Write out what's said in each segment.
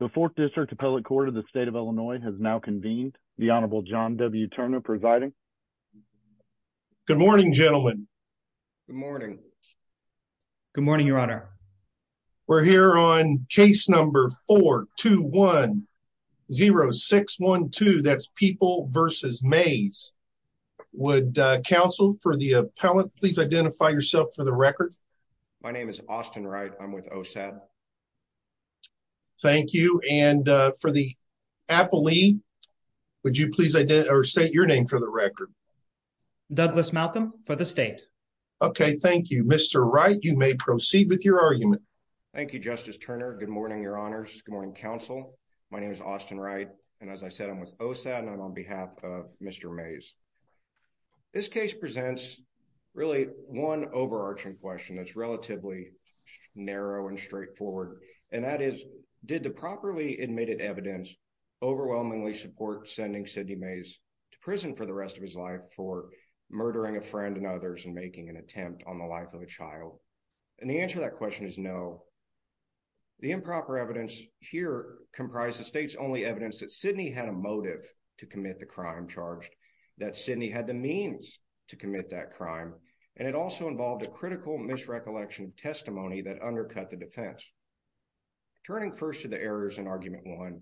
The Fourth District Appellate Court of the State of Illinois has now convened. The Honorable John W. Turner presiding. Good morning, gentlemen. Good morning. Good morning, Your Honor. We're here on case number 421-0612. That's People v. Mays. Would counsel for the appellate please identify yourself for the record? My name is Austin Wright. I'm with OSAD. Thank you. And for the appellee, would you please state your name for the record? Douglas Maltham for the state. Okay, thank you. Mr. Wright, you may proceed with your argument. Thank you, Justice Turner. Good morning, Your Honors. Good morning, counsel. My name is Austin Wright. And as I said, I'm with OSAD and I'm on behalf of Mr. Mays. This case presents really one overarching question that's relatively narrow and straightforward. And that is, did the properly admitted evidence overwhelmingly support sending Sidney Mays to prison for the rest of his life for murdering a friend and others and making an attempt on the life of a child? And the answer to that question is no. The improper evidence here comprised the state's only evidence that Sidney had a motive to commit the crime charged, that Sidney had the means to commit that crime. And it also involved a critical misrecollection testimony that undercut the defense. Turning first to the errors in Argument 1,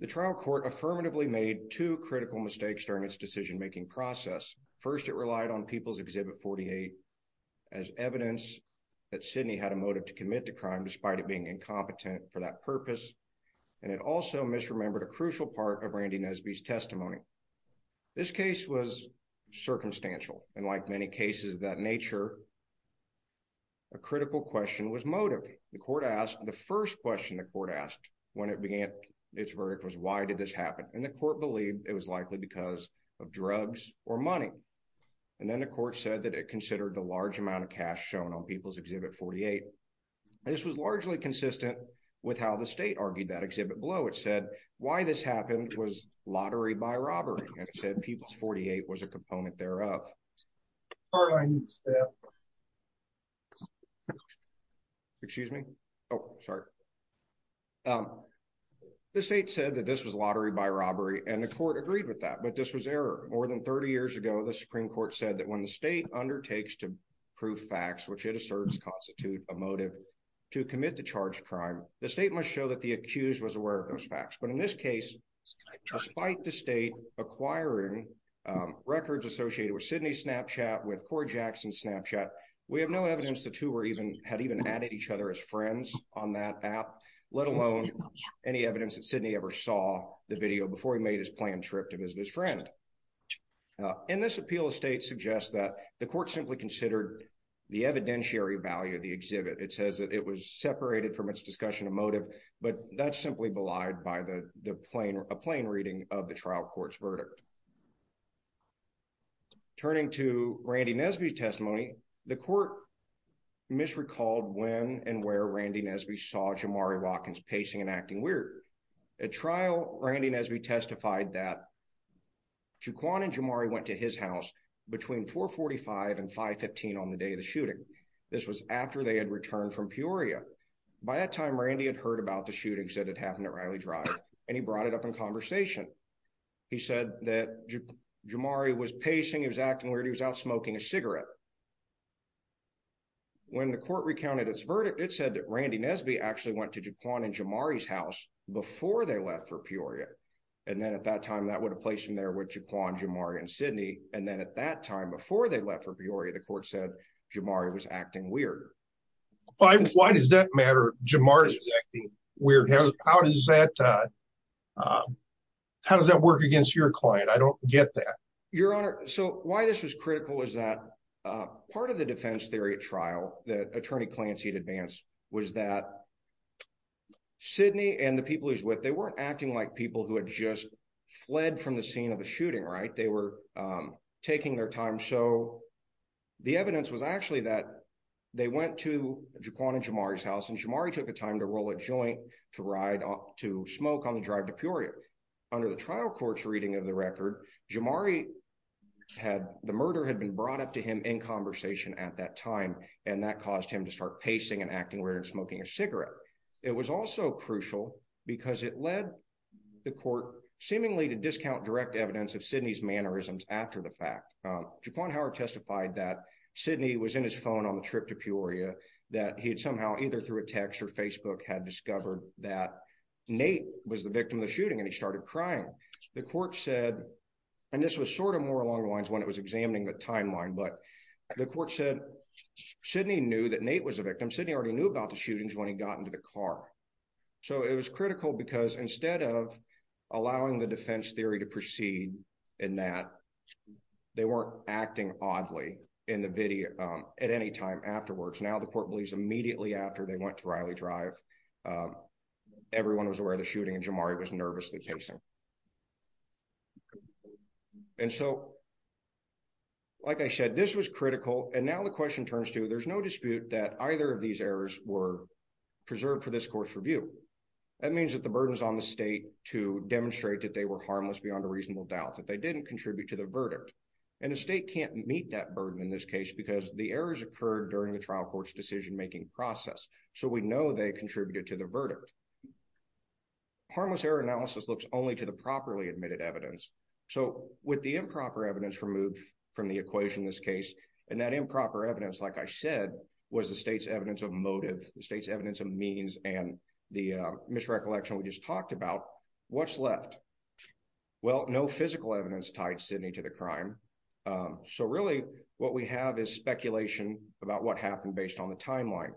the trial court affirmatively made two critical mistakes during its decision-making process. First, it relied on People's Exhibit 48 as evidence that Sidney had a motive to commit the crime despite it being incompetent for that purpose. And it also misremembered a crucial part of Randy Nesby's testimony. This case was circumstantial. And like many cases of that nature, a critical question was motive. The first question the court asked when it began its verdict was, why did this happen? And the court believed it was likely because of drugs or money. And then the court said that it considered the large amount of cash shown on People's Exhibit 48. This was largely consistent with how the state argued that exhibit below. It said why this happened was lottery by robbery, and it said People's 48 was a component thereof. The state said that this was lottery by robbery, and the court agreed with that. But this was error. More than 30 years ago, the Supreme Court said that when the state undertakes to prove facts which it asserts constitute a motive to commit the charged crime, the state must show that the accused was aware of those facts. But in this case, despite the state acquiring records associated with Sidney's Snapchat with Cor Jackson's Snapchat, we have no evidence the two had even added each other as friends on that app, let alone any evidence that Sidney ever saw the video before he made his planned trip to visit his friend. And this appeal of state suggests that the court simply considered the evidentiary value of the motive, but that's simply belied by a plain reading of the trial court's verdict. Turning to Randy Nesby's testimony, the court misrecalled when and where Randy Nesby saw Jamari Watkins pacing and acting weird. At trial, Randy Nesby testified that Jaquan and Jamari went to his house between 4.45 and 5.15 on the day of the shooting. This was after they had returned from Peoria. By that time, Randy had heard about the shootings that had happened at Riley Drive, and he brought it up in conversation. He said that Jamari was pacing, he was acting weird, he was out smoking a cigarette. When the court recounted its verdict, it said that Randy Nesby actually went to Jaquan and Jamari's house before they left for Peoria. And then at that time, that would have placed him there with Jaquan, Jamari, and Sidney. And at that time, before they left for Peoria, the court said Jamari was acting weird. Why does that matter if Jamari's acting weird? How does that work against your client? I don't get that. Your Honor, so why this was critical was that part of the defense theory at trial that Attorney Clancy advanced was that Sidney and the people he was with, they weren't acting like people who had just fled from the scene of a shooting, right? They were taking their time. So the evidence was actually that they went to Jaquan and Jamari's house, and Jamari took the time to roll a joint to smoke on the drive to Peoria. Under the trial court's reading of the record, Jamari had—the murder had been brought up to him in conversation at that time, and that caused him to start pacing and acting weird and smoking a cigarette. It was also crucial because it led the court seemingly to discount direct evidence of Sidney's mannerisms after the fact. Jaquan Howard testified that Sidney was in his phone on the trip to Peoria, that he had somehow, either through a text or Facebook, had discovered that Nate was the victim of the shooting, and he started crying. The court said—and this was sort of more along the lines when it was examining the timeline—but the court said Sidney knew that Nate was the victim. Sidney already knew about the shootings when he got into the car. So it was critical because instead of allowing the defense theory to proceed in that, they weren't acting oddly in the video at any time afterwards. Now the court believes immediately after they went to Riley Drive, everyone was aware of the shooting, and Jamari was nervously pacing. And so, like I said, this was critical, and now the question turns to, there's no dispute that either of these errors were preserved for this court's review. That means that the burden is on the state to demonstrate that they were harmless beyond a reasonable doubt, that they didn't contribute to the verdict, and the state can't meet that burden in this case because the errors occurred during the trial court's decision-making process, so we know they contributed to the verdict. Harmless error analysis looks only to the properly admitted evidence, so with the improper evidence from the equation in this case, and that improper evidence, like I said, was the state's evidence of motive, the state's evidence of means, and the misrecollection we just talked about. What's left? Well, no physical evidence tied Sidney to the crime, so really what we have is speculation about what happened based on the timeline.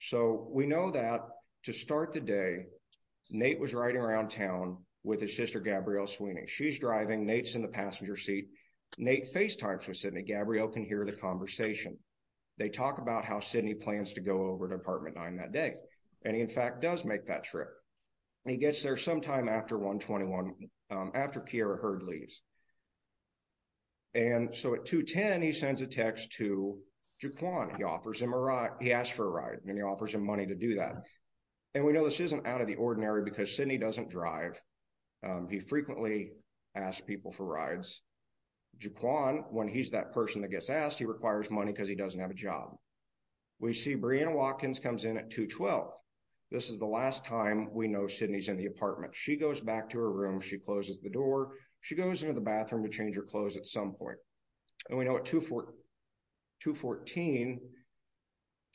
So we know that to start the day, Nate was riding around town with his sister Gabrielle Sweeney. She's driving, Nate's in the passenger seat, Nate FaceTimes with Sidney, Gabrielle can hear the conversation. They talk about how Sidney plans to go over to apartment 9 that day, and he in fact does make that trip. He gets there sometime after 121, after Kiera Heard leaves, and so at 210, he sends a text to Jaquan. He offers him a ride, he asks for a ride, and he offers him money to do that, and we know this isn't out of the ordinary because Sidney doesn't drive. He frequently asks people for rides. Jaquan, when he's that person that gets asked, he requires money because he doesn't have a job. We see Breanna Watkins comes in at 212. This is the last time we know Sidney's in the apartment. She goes back to her room, she closes the door, she goes into the bathroom to change her clothes at some point, and we know at 214,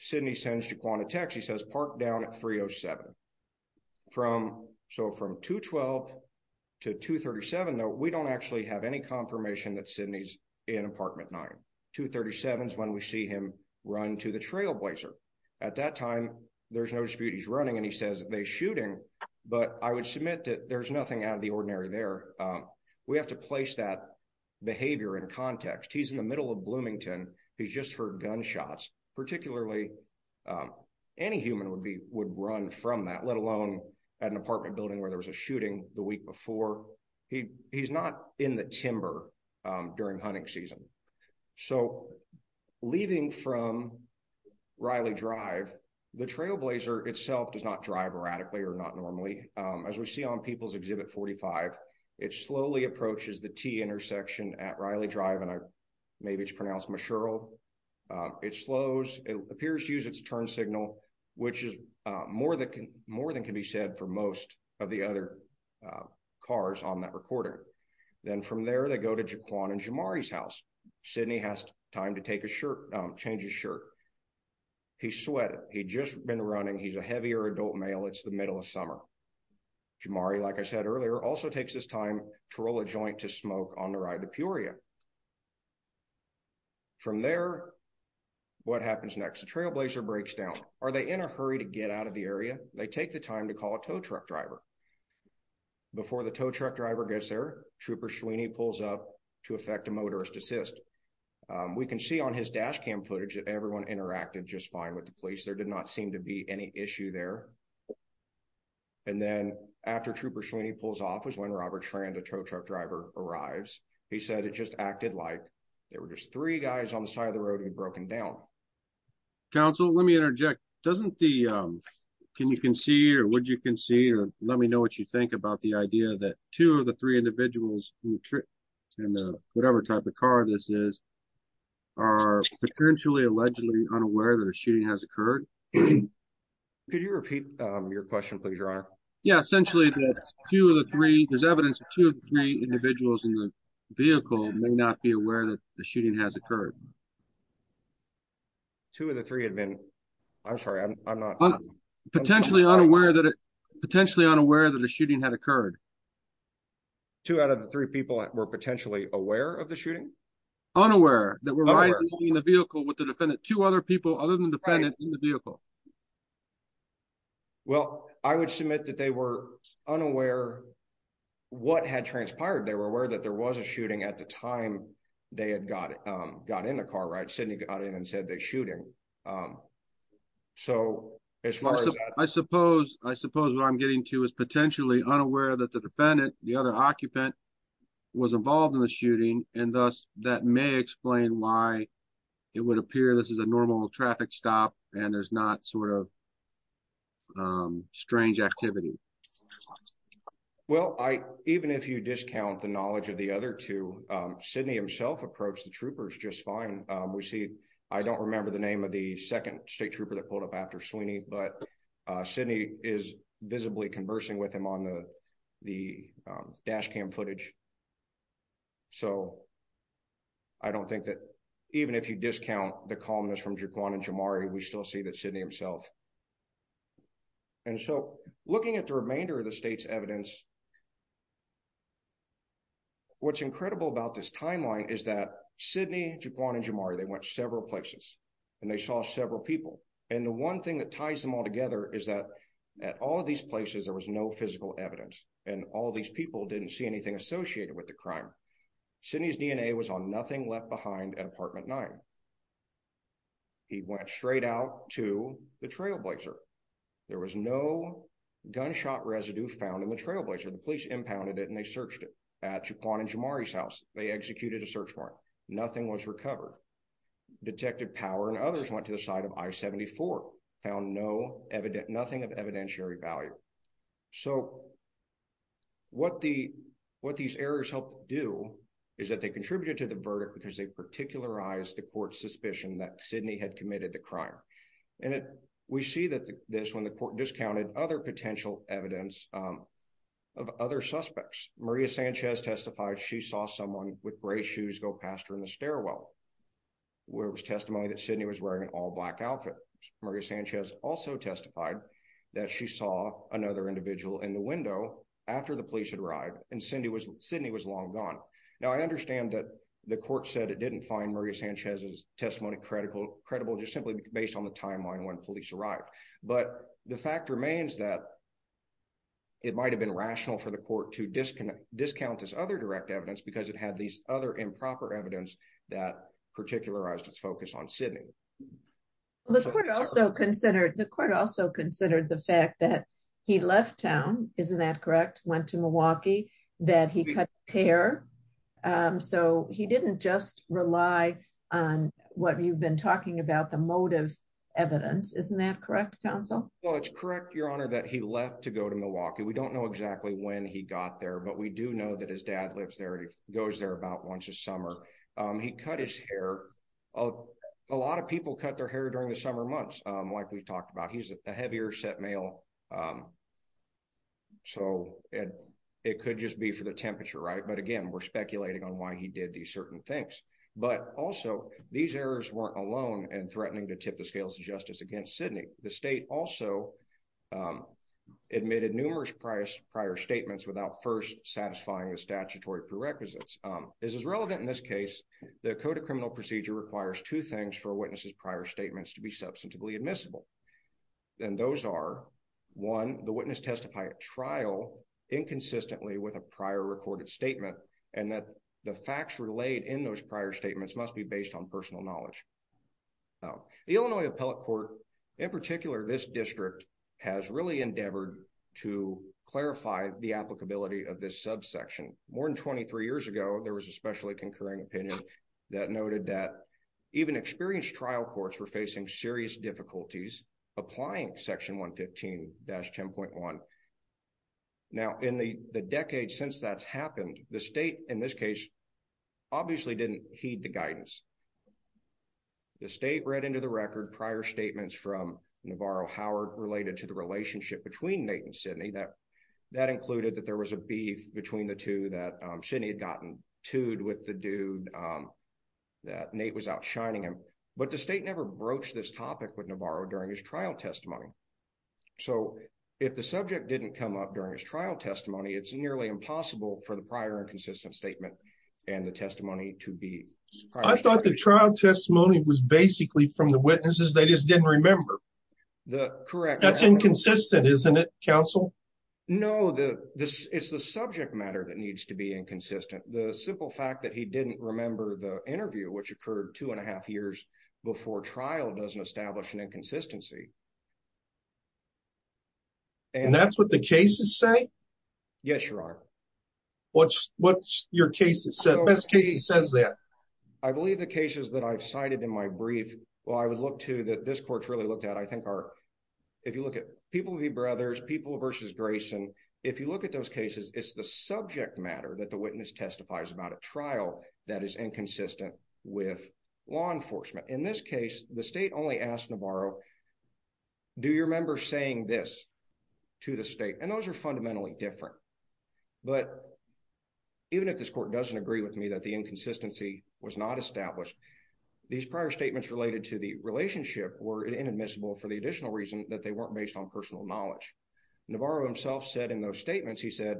Sidney sends Jaquan a text. He says park down at 307. So from 212 to 237 though, we don't actually have any confirmation that Sidney's in apartment 9. 237 is when we see him run to the trailblazer. At that time, there's no dispute he's running, and he says they're shooting, but I would submit that there's nothing out of the ordinary there. We have to place that behavior in context. He's in the middle of Bloomington. He's just heard gunshots. Particularly, any human would run from that, let alone at an apartment building where there was a shooting the week before. He's not in the timber during hunting season. So leaving from Riley Drive, the trailblazer itself does not drive erratically or not normally. As we see on People's Exhibit 45, it slowly approaches the T intersection at Riley Drive, and maybe it's pronounced Mashurl. It slows. It appears to use its turn signal, which is more than can be said for most of the other cars on that recording. Then from there, they go to Jaquan and Jamari's house. Sidney has time to take a shirt, change his shirt. He's sweated. He'd just been running. He's a heavier adult male. It's middle of summer. Jamari, like I said earlier, also takes his time to roll a joint to smoke on the ride to Peoria. From there, what happens next? The trailblazer breaks down. Are they in a hurry to get out of the area? They take the time to call a tow truck driver. Before the tow truck driver gets there, Trooper Sweeney pulls up to effect a motorist assist. We can see on his dash cam footage that everyone interacted just fine with the police. There did not seem to be any issue there. And then after Trooper Sweeney pulls off is when Robert Schrand, a tow truck driver, arrives. He said it just acted like there were just three guys on the side of the road who'd broken down. Council, let me interject. Can you concede or would you concede or let me know what you think about the idea that two of the three individuals in whatever type of car this is are potentially allegedly unaware that a shooting has occurred? Could you repeat your question, please, your honor? Yeah, essentially that two of the three there's evidence of two of three individuals in the vehicle may not be aware that the shooting has occurred. Two of the three had been, I'm sorry, I'm not potentially unaware that it potentially unaware that a shooting had occurred. Two out of the three people that were potentially aware of the shooting? Unaware that we're riding in the vehicle with the defendant, two other people other than the defendant in the vehicle. Well, I would submit that they were unaware what had transpired. They were aware that there was a shooting at the time they had got in the car, right? Sidney got in and said there's shooting. So as far as I suppose, I suppose what I'm getting to is potentially unaware that the defendant, the other occupant, was involved in the shooting and thus that may explain why it would appear this is a normal traffic stop and there's not sort of strange activity. Well, even if you discount the knowledge of the other two, Sidney himself approached the troopers just fine. We see, I don't remember the name of the second state trooper that pulled up after Sweeney, but Sidney is visibly conversing with him on the the dash cam footage. So I don't think that even if you discount the columnist from Jaquan and Jamari, we still see that Sidney himself. And so looking at the remainder of the state's evidence, what's incredible about this timeline is that Sidney, Jaquan and Jamari, they went several places and they saw several people and the one thing that ties them all together is that at all of these places there was no physical evidence and all these people didn't see anything associated with the crime. Sidney's DNA was on nothing left behind at apartment 9. He went straight out to the trailblazer. There was no gunshot residue found in the trailblazer. The police impounded it and they searched it at Jaquan and Jamari's house. They executed a search Nothing was recovered. Detected power and others went to the site of I-74. Found nothing of evidentiary value. So what these errors helped do is that they contributed to the verdict because they particularized the court's suspicion that Sidney had committed the crime. And we see this when the court discounted other potential evidence of other suspects. Maria Sanchez testified she saw someone with gray shoes go past her in the stairwell where it was testimony that Sidney was wearing an all-black outfit. Maria Sanchez also testified that she saw another individual in the window after the police had arrived and Sidney was long gone. Now I understand that the court said it didn't find Maria Sanchez's testimony credible just simply based on the timeline when police arrived but the fact remains that it might have rational for the court to discount this other direct evidence because it had these other improper evidence that particularized its focus on Sidney. The court also considered the fact that he left town, isn't that correct, went to Milwaukee, that he cut hair. So he didn't just rely on what you've been talking about, the motive evidence, isn't that correct counsel? Well it's he got there but we do know that his dad lives there. He goes there about once a summer. He cut his hair. A lot of people cut their hair during the summer months like we talked about. He's a heavier set male so it could just be for the temperature, right? But again we're speculating on why he did these certain things but also these errors weren't alone in threatening to tip the prior statements without first satisfying the statutory prerequisites. This is relevant in this case. The code of criminal procedure requires two things for a witness's prior statements to be substantively admissible and those are one the witness testify at trial inconsistently with a prior recorded statement and that the facts relayed in those prior statements must be based on personal knowledge. The Illinois appellate court in particular this district has really endeavored to clarify the applicability of this subsection. More than 23 years ago there was a specially concurring opinion that noted that even experienced trial courts were facing serious difficulties applying section 115-10.1. Now in the the decades since that's happened the state in this case obviously didn't heed the guidance. The state read into the record prior statements from Navarro Howard related to the relationship between Nate and Sidney that that included that there was a beef between the two that Sidney had gotten toed with the dude that Nate was out shining him. But the state never broached this topic with Navarro during his trial testimony. So if the subject didn't come up during his trial testimony it's nearly impossible for the prior inconsistent statement and the testimony to be. I thought the trial testimony was basically from the witnesses they just didn't remember. The correct that's inconsistent isn't it counsel? No the this it's the subject matter that needs to be inconsistent. The simple fact that he didn't remember the interview which occurred two and a half years before trial doesn't establish an inconsistency. And that's what the cases say? Yes you are. What's what's your case it's the best case it says that? I believe the cases that I've cited in my brief well I would look to that this court's really looked at I think are if you look at People v. Brothers, People v. Grayson, if you look at those cases it's the subject matter that the witness testifies about a trial that is inconsistent with law enforcement. In this case the state only asked Navarro do you remember saying this to the state and those are fundamentally different. But even if this court doesn't agree with me that the inconsistency was not established these prior statements related to the relationship were inadmissible for the additional reason that they weren't based on personal knowledge. Navarro himself said in those statements he said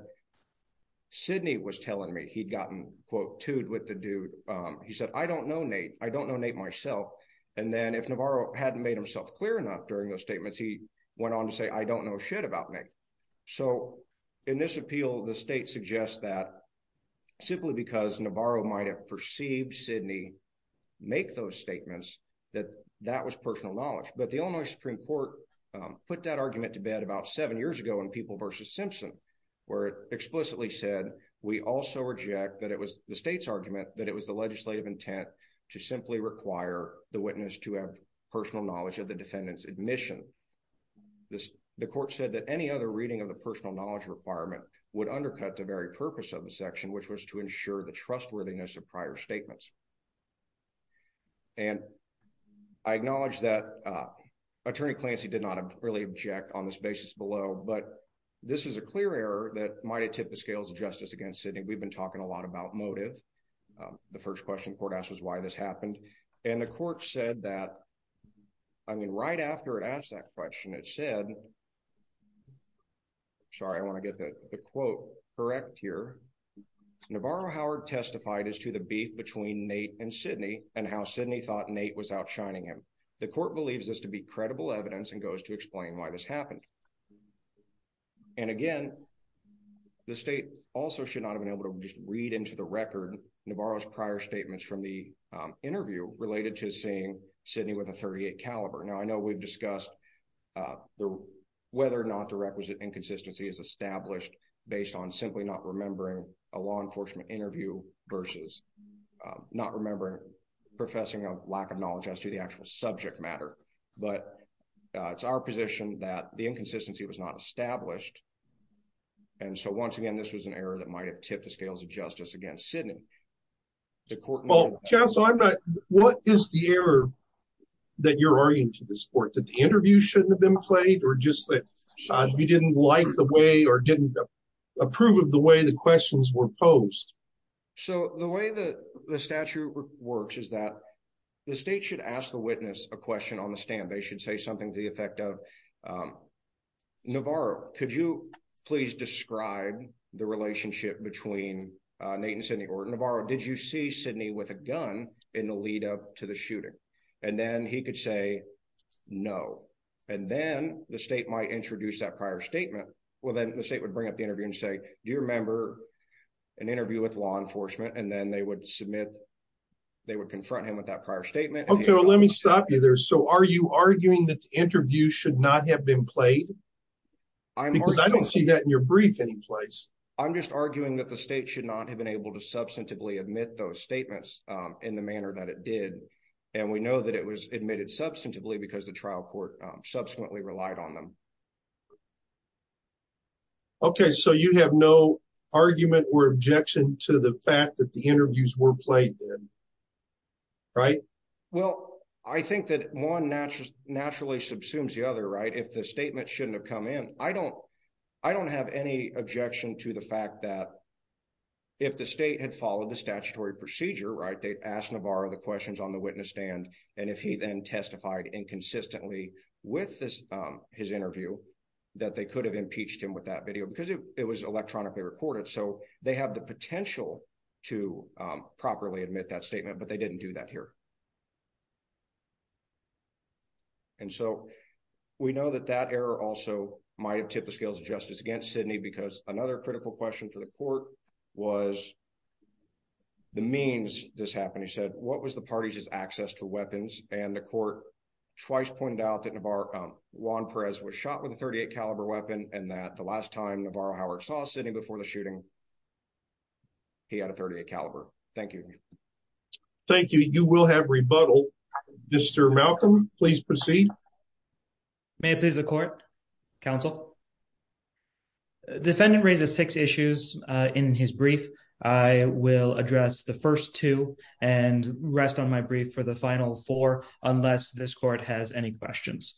Sidney was telling me he'd gotten quote toed with the dude he said I don't know Nate I don't know Nate myself and then if Navarro hadn't made himself clear enough during those statements he went on to say I don't know shit about Nate. So in this appeal the state suggests that simply because Navarro might have perceived Sidney make those statements that that was personal knowledge. But the Illinois Supreme Court put that argument to bed about seven years ago in People v. Simpson where it explicitly said we also reject that it was the state's argument that it was the legislative intent to simply require the witness to have personal knowledge of the defendant's admission. The court said that any other reading of the personal knowledge requirement would undercut the very purpose of the section which was to ensure the trustworthiness of prior statements. And I acknowledge that Attorney Clancy did not really object on this basis below but this is a clear error that might have tipped the scales of justice against Sidney. We've been talking a lot about motive. The first question court asked was why this happened and the court said that I mean right after it asked that question it said sorry I want to get the quote correct here Navarro Howard testified as to the beef between Nate and Sidney and how Sidney thought Nate was outshining him. The court believes this to be credible evidence and goes to explain why this happened. And again the state also should not have been able to just read into the record Navarro's prior statements from the interview related to seeing Sidney with a 38 caliber. Now I know we've discussed whether or not the requisite inconsistency is established based on simply not remembering a law enforcement interview versus not remembering professing a lack of knowledge as to the actual subject matter but it's our position that the inconsistency was not established and so once again this was an error might have tipped the scales of justice against Sidney. What is the error that you're arguing to this court that the interview shouldn't have been played or just that we didn't like the way or didn't approve of the way the questions were posed? So the way that the statute works is that the state should ask the witness a question on the stand. They should say something to the effect of Navarro could you please describe the relationship between Nate and Sidney or Navarro did you see Sidney with a gun in the lead-up to the shooting and then he could say no and then the state might introduce that prior statement well then the state would bring up the interview and say do you remember an interview with law enforcement and then they would submit they would confront him with that prior statement. Okay well let me stop you there so are you arguing that the interview should not have been played because I don't see that in your brief any place. I'm just arguing that the state should not have been able to substantively admit those statements in the manner that it did and we know that it was admitted substantively because the trial court subsequently relied on them. Okay so you have no argument or objection to the fact that the interviews were played right? Well I think that one naturally subsumes the other right if the statement shouldn't have come in I don't have any objection to the fact that if the state had followed the statutory procedure right they asked Navarro the questions on the witness stand and if he then testified inconsistently with this his interview that they could have impeached him with that video because it was electronically recorded so they have the potential to properly admit that statement but they didn't do that here and so we know that that error also might have tipped the scales of justice against Sidney because another critical question for the court was the means this happened he said what was the party's access to weapons and the court twice pointed out that Navarro Juan Perez was shot with a 38 caliber weapon and that the last time Navarro saw Sidney before the shooting he had a 38 caliber. Thank you. Thank you you will have rebuttal Mr. Malcolm please proceed. May it please the court counsel defendant raises six issues in his brief I will address the first two and rest on my brief for the final four unless this court has any questions.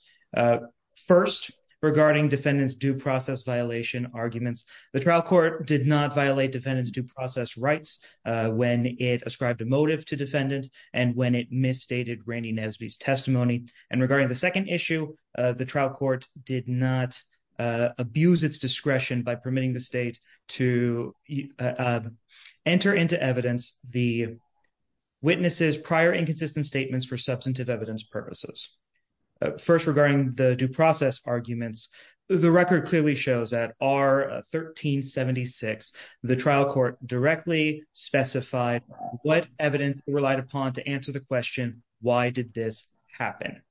First regarding defendants due process violation arguments the trial court did not violate defendants due process rights when it ascribed a motive to defendant and when it misstated Randy Nesby's testimony and regarding the second issue the trial court did not abuse its discretion by permitting the state to enter into evidence the witnesses prior inconsistent statements for substantive evidence purposes. First regarding the due process arguments the record clearly shows that R 1376 the trial court directly specified what evidence relied upon to answer the question why did this happen.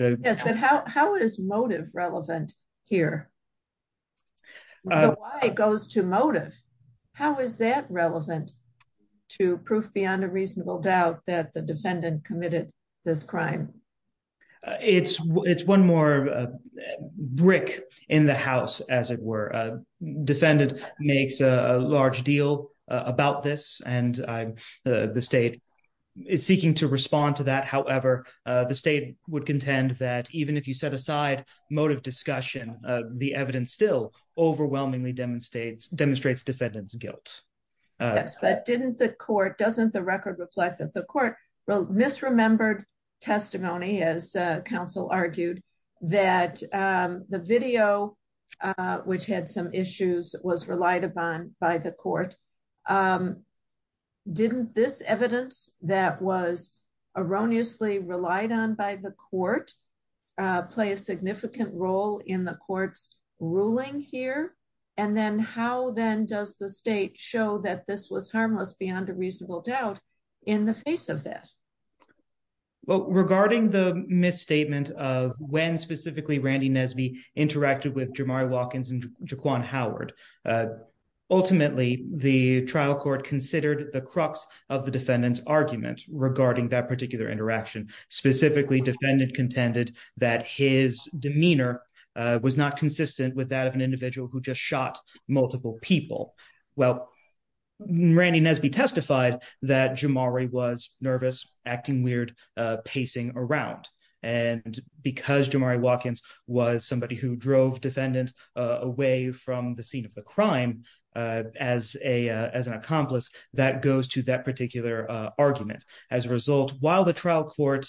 Yes but how how is motive relevant here? The why goes to motive how is that relevant to proof beyond a reasonable doubt that the defendant committed this crime? It's it's one more brick in the house as it were a defendant makes a large deal about this and the state is seeking to respond to that however the state would contend that even if you set aside motive discussion the evidence still overwhelmingly demonstrates demonstrates defendant's guilt. Yes but didn't the court doesn't the record reflect that the court wrote misremembered testimony as counsel argued that the video which had some issues was relied upon by the court. Didn't this evidence that was erroneously relied on by the court play a significant role in the court's ruling here and then how then does the state show that this was harmless beyond a reasonable doubt in the face of that? Well regarding the misstatement of when specifically Randy Nesby interacted with Jamari Watkins and Jaquan Howard ultimately the trial court considered the crux of the defendant's argument regarding that particular interaction specifically defendant contended that his demeanor was not consistent with that of an individual who just shot multiple people. Well Randy Nesby testified that Jamari was nervous acting weird pacing around and because Jamari Watkins was somebody who drove defendant away from the scene of the crime as a as an accomplice that goes to that particular argument. As a result while the trial court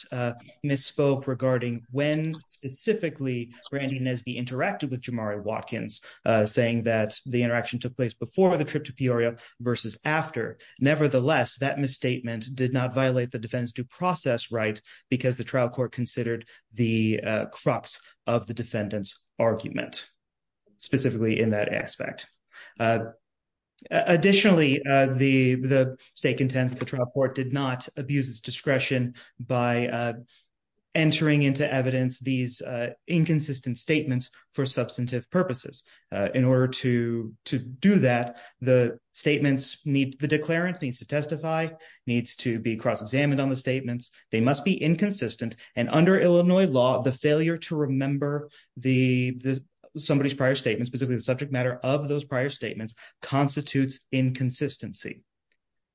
misspoke regarding when specifically Randy Nesby interacted with Jamari Watkins saying that the interaction took place before the trip to Peoria versus after nevertheless that misstatement did not violate the defendant's due process right because the trial court considered the crux of the defendant's argument specifically in that aspect. Additionally the the stake the trial court did not abuse its discretion by entering into evidence these inconsistent statements for substantive purposes. In order to to do that the statements need the declarant needs to testify needs to be cross-examined on the statements they must be inconsistent and under Illinois law the failure to remember the somebody's prior statement specifically the subject matter of those prior statements constitutes inconsistency.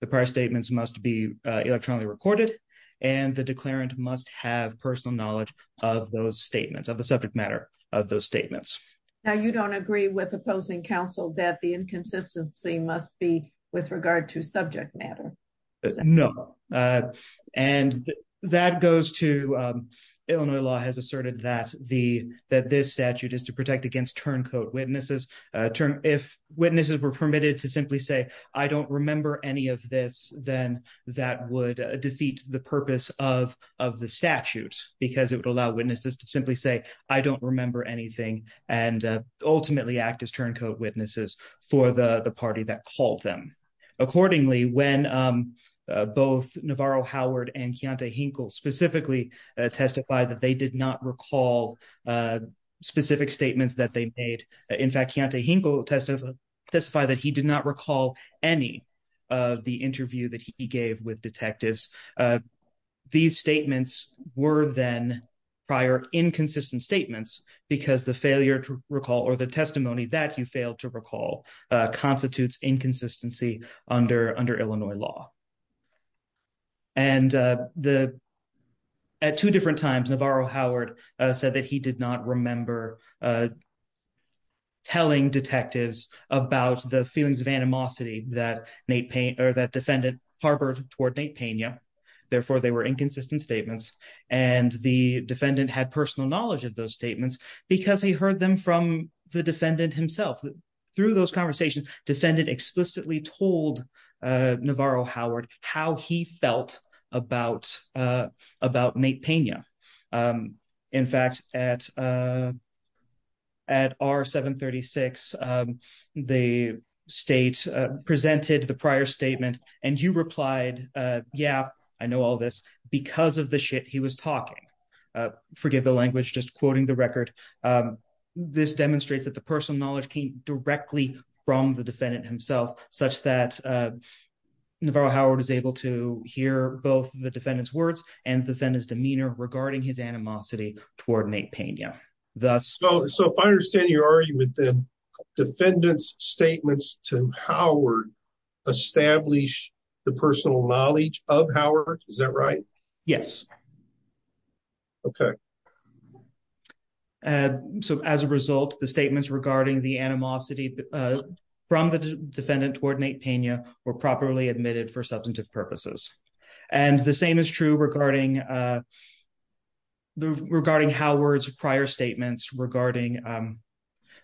The prior statements must be electronically recorded and the declarant must have personal knowledge of those statements of the subject matter of those statements. Now you don't agree with opposing counsel that the inconsistency must be with regard to subject matter? No and that goes to Illinois law has asserted that the that this witnesses were permitted to simply say I don't remember any of this then that would defeat the purpose of of the statute because it would allow witnesses to simply say I don't remember anything and ultimately act as turncoat witnesses for the the party that called them. Accordingly when both Navarro Howard and Keontae Hinkle specifically testify that they did not recall specific statements that they made in fact Keontae Hinkle testified that he did not recall any of the interview that he gave with detectives. These statements were then prior inconsistent statements because the failure to recall or the testimony that you failed to recall constitutes inconsistency under under Illinois law. And the at two different times Navarro Howard said that he did not remember telling detectives about the feelings of animosity that Nate Payne or that defendant harbored toward Nate Pena therefore they were inconsistent statements and the defendant had personal knowledge of those statements because he heard them from the defendant himself. Through those conversations defendant explicitly told Navarro Howard how he about about Nate Pena. In fact at at R-736 the state presented the prior statement and you replied yeah I know all this because of the shit he was talking. Forgive the language just quoting the record this demonstrates that the personal knowledge came directly from the defendant himself such that Navarro Howard is able to hear both the defendant's words and defendant's demeanor regarding his animosity toward Nate Pena. So if I understand your argument then defendant's statements to Howard establish the personal knowledge of Howard is that right? Yes. Okay. So as a result the statements regarding the animosity from the defendant toward Nate Pena were properly admitted for substantive purposes. And the same is true regarding regarding Howard's prior statements regarding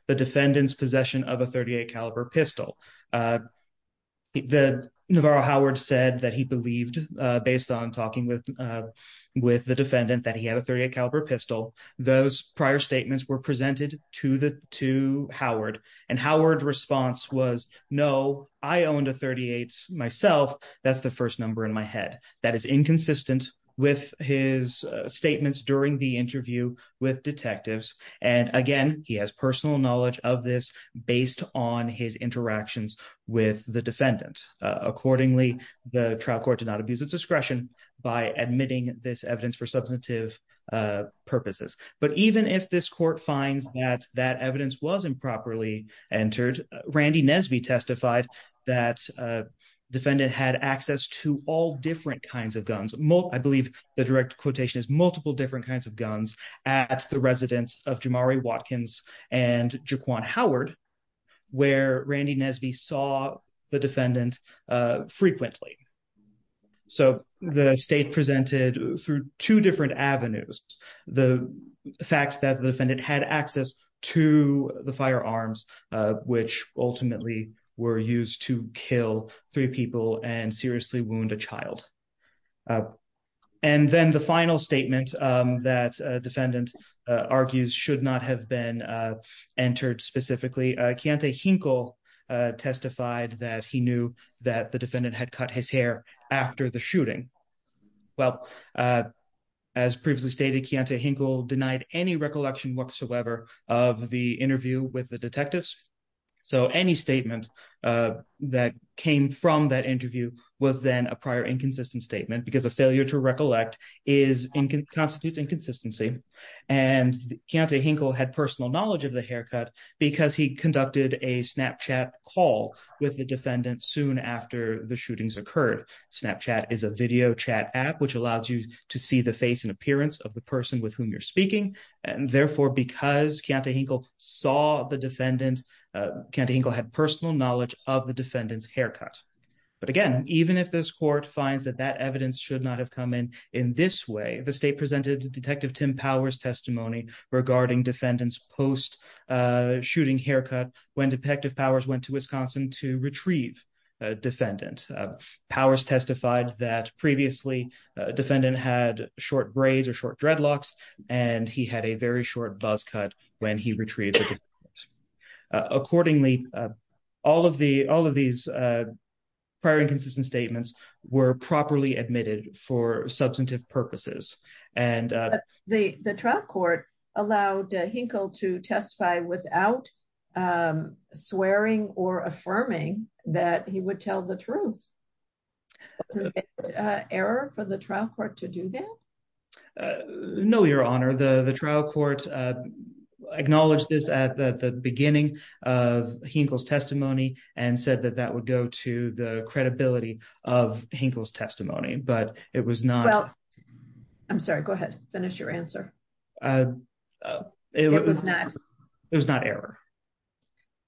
the defendant's possession of a .38 caliber pistol. The Navarro Howard said that he believed based on talking with with the defendant that he had a .38 caliber pistol. Those prior statements were presented to the to Howard and Howard response was no I owned a .38 myself that's the first number in my head. That is inconsistent with his statements during the interview with detectives and again he has personal knowledge of this based on his interactions with the defendant. Accordingly the trial court did not abuse its discretion by admitting this evidence for substantive purposes. But even if this court finds that that evidence was improperly entered Randy Nesby testified that defendant had access to all different kinds of guns. I believe the direct quotation is multiple different kinds of guns at the residence of Jamari Watkins and Jaquan Howard where Randy Nesby saw the defendant frequently. So the state presented through two different avenues the fact that the defendant had access to the firearms which ultimately were used to kill three people and seriously wound a argues should not have been entered specifically. Kianta Hinkle testified that he knew that the defendant had cut his hair after the shooting. Well as previously stated Kianta Hinkle denied any recollection whatsoever of the interview with the detectives. So any statement that came from that interview was then a prior inconsistent statement because a failure to recollect constitutes inconsistency and Kianta Hinkle had personal knowledge of the haircut because he conducted a snapchat call with the defendant soon after the shootings occurred. Snapchat is a video chat app which allows you to see the face and appearance of the person with whom you're speaking and therefore because Kianta Hinkle saw the defendant Kianta Hinkle had personal knowledge of the defendant's haircut. But again even if this court finds that that evidence should not have come in in this way the state presented Detective Tim Powers testimony regarding defendants post-shooting haircut when Detective Powers went to Wisconsin to retrieve a defendant. Powers testified that previously defendant had short braids or short dreadlocks and he had a very short buzz cut when he retrieved it. Accordingly all of these prior inconsistent statements were properly admitted for substantive purposes and the the trial court allowed Hinkle to testify without swearing or affirming that he would tell the truth. Error for the trial court to do that? No your honor the the trial court acknowledged this at the beginning of Hinkle's testimony but it was not. Well I'm sorry go ahead finish your answer. It was not it was not error.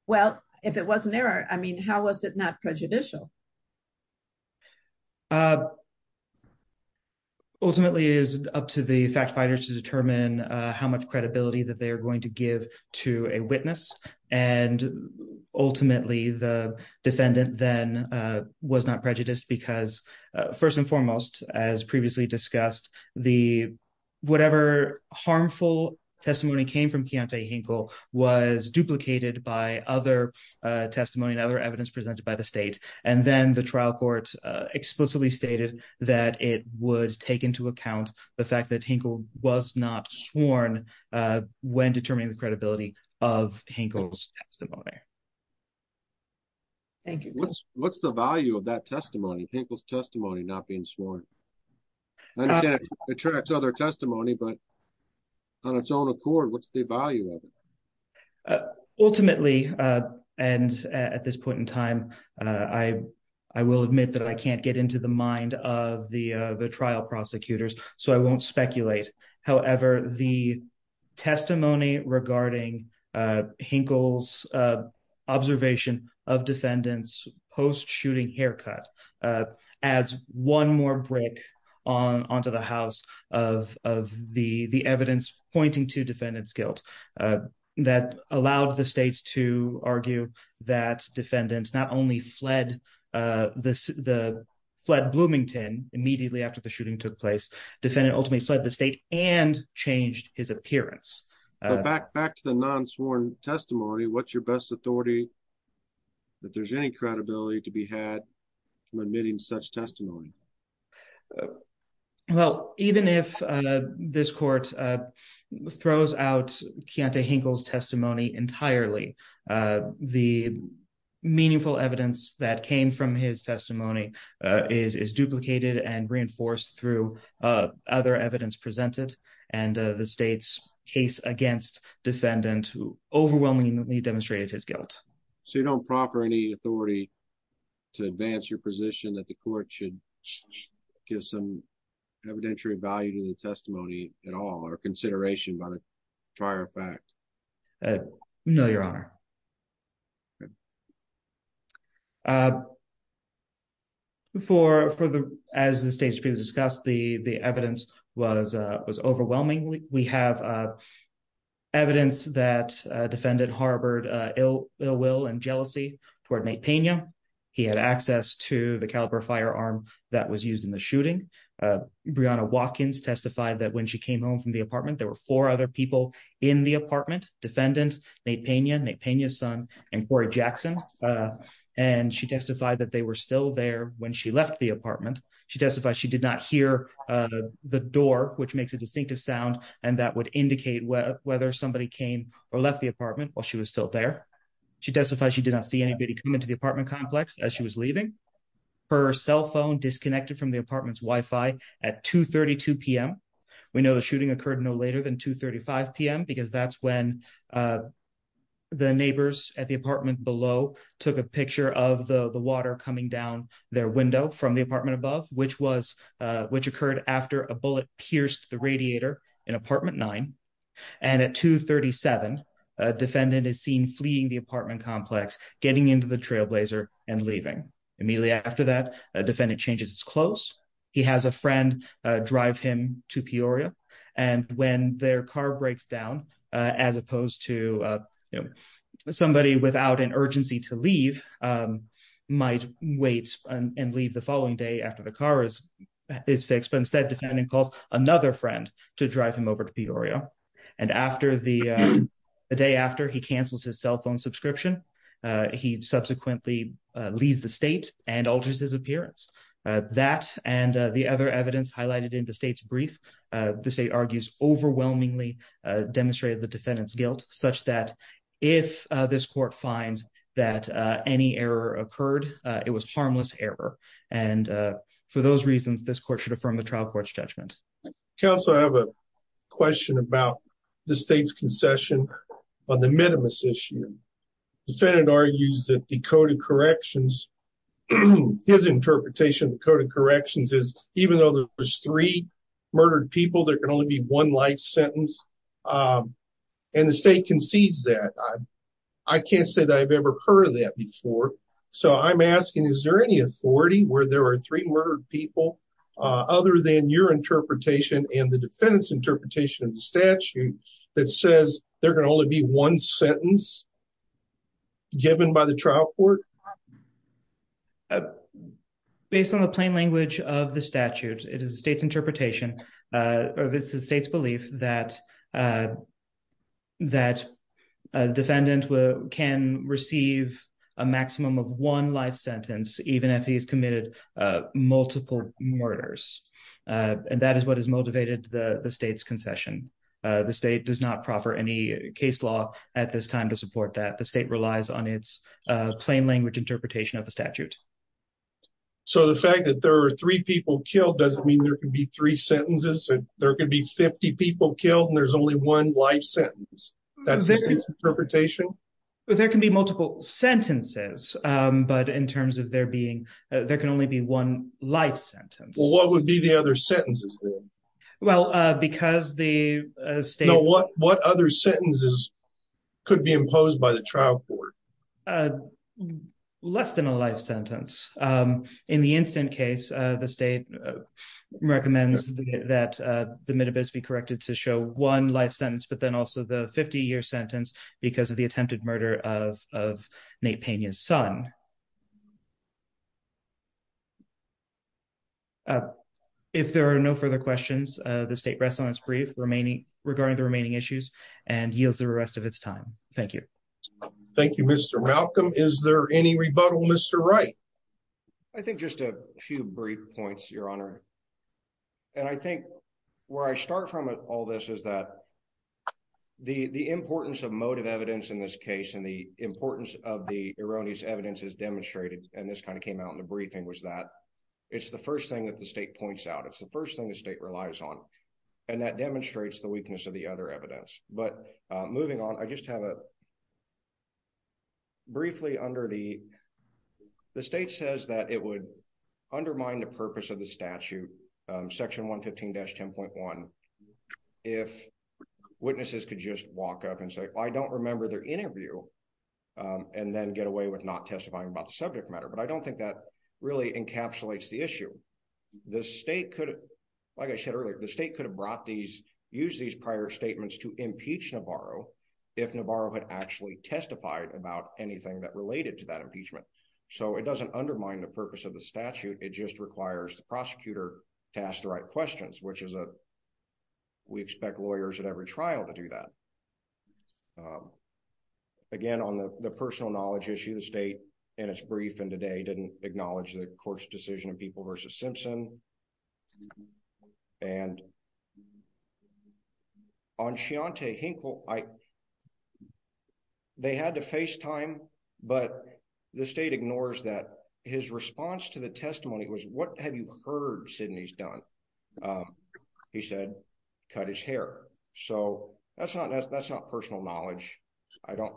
Well if it was an error I mean how was it not prejudicial? Ultimately it is up to the fact fighters to determine how much credibility that they are because first and foremost as previously discussed the whatever harmful testimony came from Keontae Hinkle was duplicated by other testimony and other evidence presented by the state and then the trial court explicitly stated that it would take into account the fact that Hinkle was not sworn when determining the credibility of Hinkle's testimony. Thank you. What's what's the value of that testimony Hinkle's testimony not being sworn? I understand it attracts other testimony but on its own accord what's the value of it? Ultimately and at this point in time I will admit that I can't get into the mind of the observation of defendants post-shooting haircut adds one more brick on onto the house of of the the evidence pointing to defendants guilt that allowed the states to argue that defendants not only fled the fled Bloomington immediately after the shooting took place defendant ultimately fled the state and changed his appearance. Back to the non-sworn testimony what's your best authority that there's any credibility to be had from admitting such testimony? Well even if this court throws out Keontae Hinkle's testimony entirely the meaningful evidence that came from his testimony is is duplicated and reinforced through other evidence and the state's case against defendant who overwhelmingly demonstrated his guilt. So you don't proffer any authority to advance your position that the court should give some evidentiary value to the testimony at all or consideration by the prior fact? No, your honor. Before for the as the state has discussed the the evidence was was overwhelmingly we have evidence that defendant harbored ill will and jealousy toward Nate Pena. He had access to the caliber firearm that was used in the shooting. Breonna Watkins testified that when she came home there were four other people in the apartment. Defendant Nate Pena, Nate Pena's son and Corey Jackson and she testified that they were still there when she left the apartment. She testified she did not hear the door which makes a distinctive sound and that would indicate whether somebody came or left the apartment while she was still there. She testified she did not see anybody come into the apartment complex as she was leaving. Her cell phone disconnected from the apartment's wi-fi at 2.32 p.m. We know the shooting occurred no later than 2.35 p.m. because that's when the neighbors at the apartment below took a picture of the the water coming down their window from the apartment above which was which occurred after a bullet pierced the radiator in apartment nine and at 2.37 a defendant is seen fleeing the apartment complex getting into the trailblazer and leaving. Immediately after that a defendant changes his clothes. He has a friend drive him to Peoria and when their car breaks down as opposed to somebody without an urgency to leave might wait and leave the following day after the car is fixed but instead defendant calls another friend to drive him over to Peoria and after the day after he cancels his cell phone subscription he subsequently leaves the state and alters his appearance. That and the other evidence highlighted in the state's brief the state argues overwhelmingly demonstrated the defendant's guilt such that if this court finds that any error occurred it was harmless error and for those reasons this court should affirm the trial court's judgment. Counsel I have a the state's concession on the minimus issue. Defendant argues that the code of corrections his interpretation of the code of corrections is even though there's three murdered people there can only be one life sentence and the state concedes that. I can't say that I've ever heard of that before so I'm asking is there any authority where there are three murdered people other than your interpretation and the defendant's interpretation of the statute that says there can only be one sentence given by the trial court? Based on the plain language of the statute it is the state's interpretation uh or this is the state's belief that uh that a defendant can receive a maximum of one life murders uh and that is what has motivated the the state's concession uh the state does not proffer any case law at this time to support that the state relies on its uh plain language interpretation of the statute. So the fact that there are three people killed doesn't mean there can be three sentences and there could be 50 people killed and there's only one life sentence that's the state's interpretation? Well there can be multiple sentences um but in terms of there there can only be one life sentence. Well what would be the other sentences then? Well uh because the state... No what what other sentences could be imposed by the trial court? Less than a life sentence um in the instant case uh the state recommends that uh the minibus be corrected to show one life sentence but then also the 50-year sentence because of the attempted murder of of Nate Pena's son. If there are no further questions uh the state rests on its brief remaining regarding the remaining issues and yields the rest of its time. Thank you. Thank you Mr. Malcolm. Is there any rebuttal Mr. Wright? I think just a few brief points your honor and I think where I start from all this is that the the importance of motive evidence in this case and the importance of the erroneous evidence is demonstrated and this kind of came out in the briefing was that it's the first thing that the state points out it's the first thing the state relies on and that demonstrates the weakness of the other evidence but moving on I just have a under the the state says that it would undermine the purpose of the statute um section 115-10.1 if witnesses could just walk up and say I don't remember their interview um and then get away with not testifying about the subject matter but I don't think that really encapsulates the issue. The state could like I said earlier the state could have brought these use these prior statements to impeach Navarro if Navarro had actually testified about anything that related to that impeachment so it doesn't undermine the purpose of the statute it just requires the prosecutor to ask the right questions which is a we expect lawyers at every trial to do that. Again on the personal knowledge issue the state in its brief and today didn't acknowledge the decision of people versus Simpson and on Chianti Hinkle I they had to FaceTime but the state ignores that his response to the testimony was what have you heard Sidney's done he said cut his hair so that's not that's not personal knowledge I don't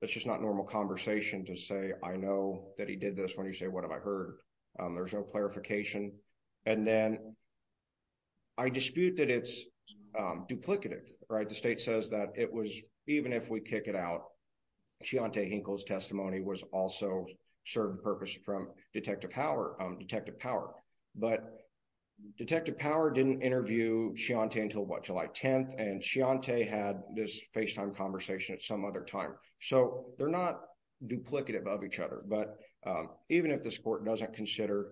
that's just not conversation to say I know that he did this when you say what have I heard there's no clarification and then I dispute that it's duplicative right the state says that it was even if we kick it out Chianti Hinkle's testimony was also served purpose from Detective Power um Detective Power but Detective Power didn't interview Chianti until what July 10th and Chianti had this FaceTime conversation at some other time so they're not duplicative of each other but um even if this court doesn't consider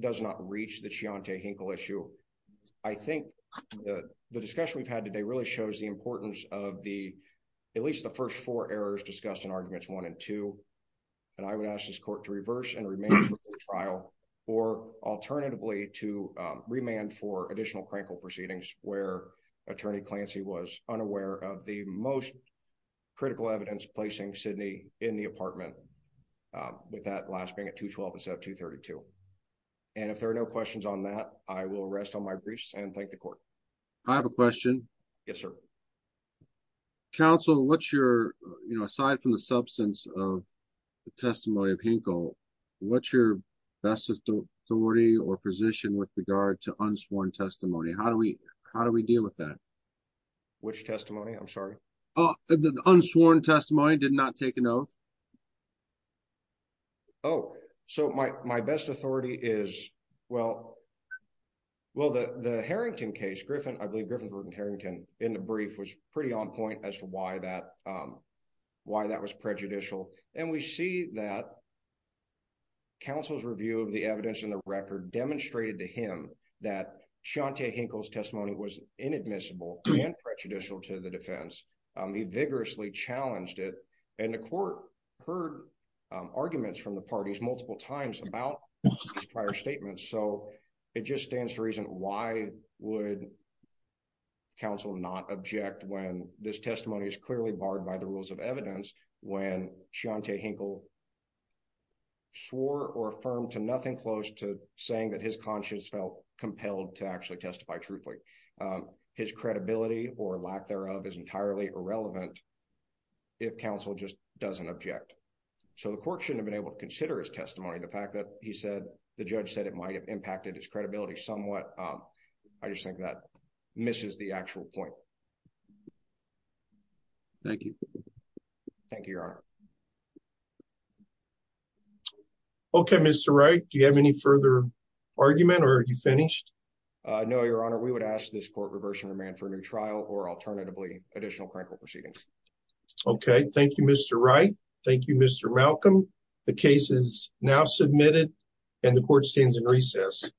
does not reach the Chianti Hinkle issue I think the discussion we've had today really shows the importance of the at least the first four errors discussed in arguments one and two and I would ask this court to reverse and remain for the trial or alternatively to remand for additional crankle proceedings where attorney Clancy was unaware of the most critical evidence placing Sidney in the apartment with that last being at 212 instead of 232 and if there are no questions on that I will rest on my briefs and thank the court I have a question yes sir counsel what's your you know aside from the substance of the testimony of Hinkle what's your best authority or position with regard to unsworn testimony how do we how do we deal with that which testimony I'm sorry oh the unsworn testimony did not take an oath oh so my my best authority is well well the the Harrington case Griffin I believe Griffin Harrington in the brief was pretty on point as to why that um why that was prejudicial and we see that counsel's review of the evidence in the record demonstrated to him that Chianti Hinkle's testimony was inadmissible and prejudicial to the defense he vigorously challenged it and the court heard arguments from the parties multiple times about his prior statements so it just stands to reason why would counsel not object when this testimony is clearly barred by the rules of the statute that's been passed by the court the court really does not object to the fact that Chianti Hinkle swore or affirmed to nothing close to saying that his conscience felt compelled to actually testify truthfully his credibility or lack thereof is entirely irrelevant if counsel just doesn't object so the court shouldn't have been able to consider his testimony the fact that he did okay Mr. Wright do you have any further argument or are you finished uh no your honor we would ask this court reverse and remand for a new trial or alternatively additional critical proceedings okay thank you Mr. Wright thank you Mr. Malcolm the case is now submitted and the court stands in recess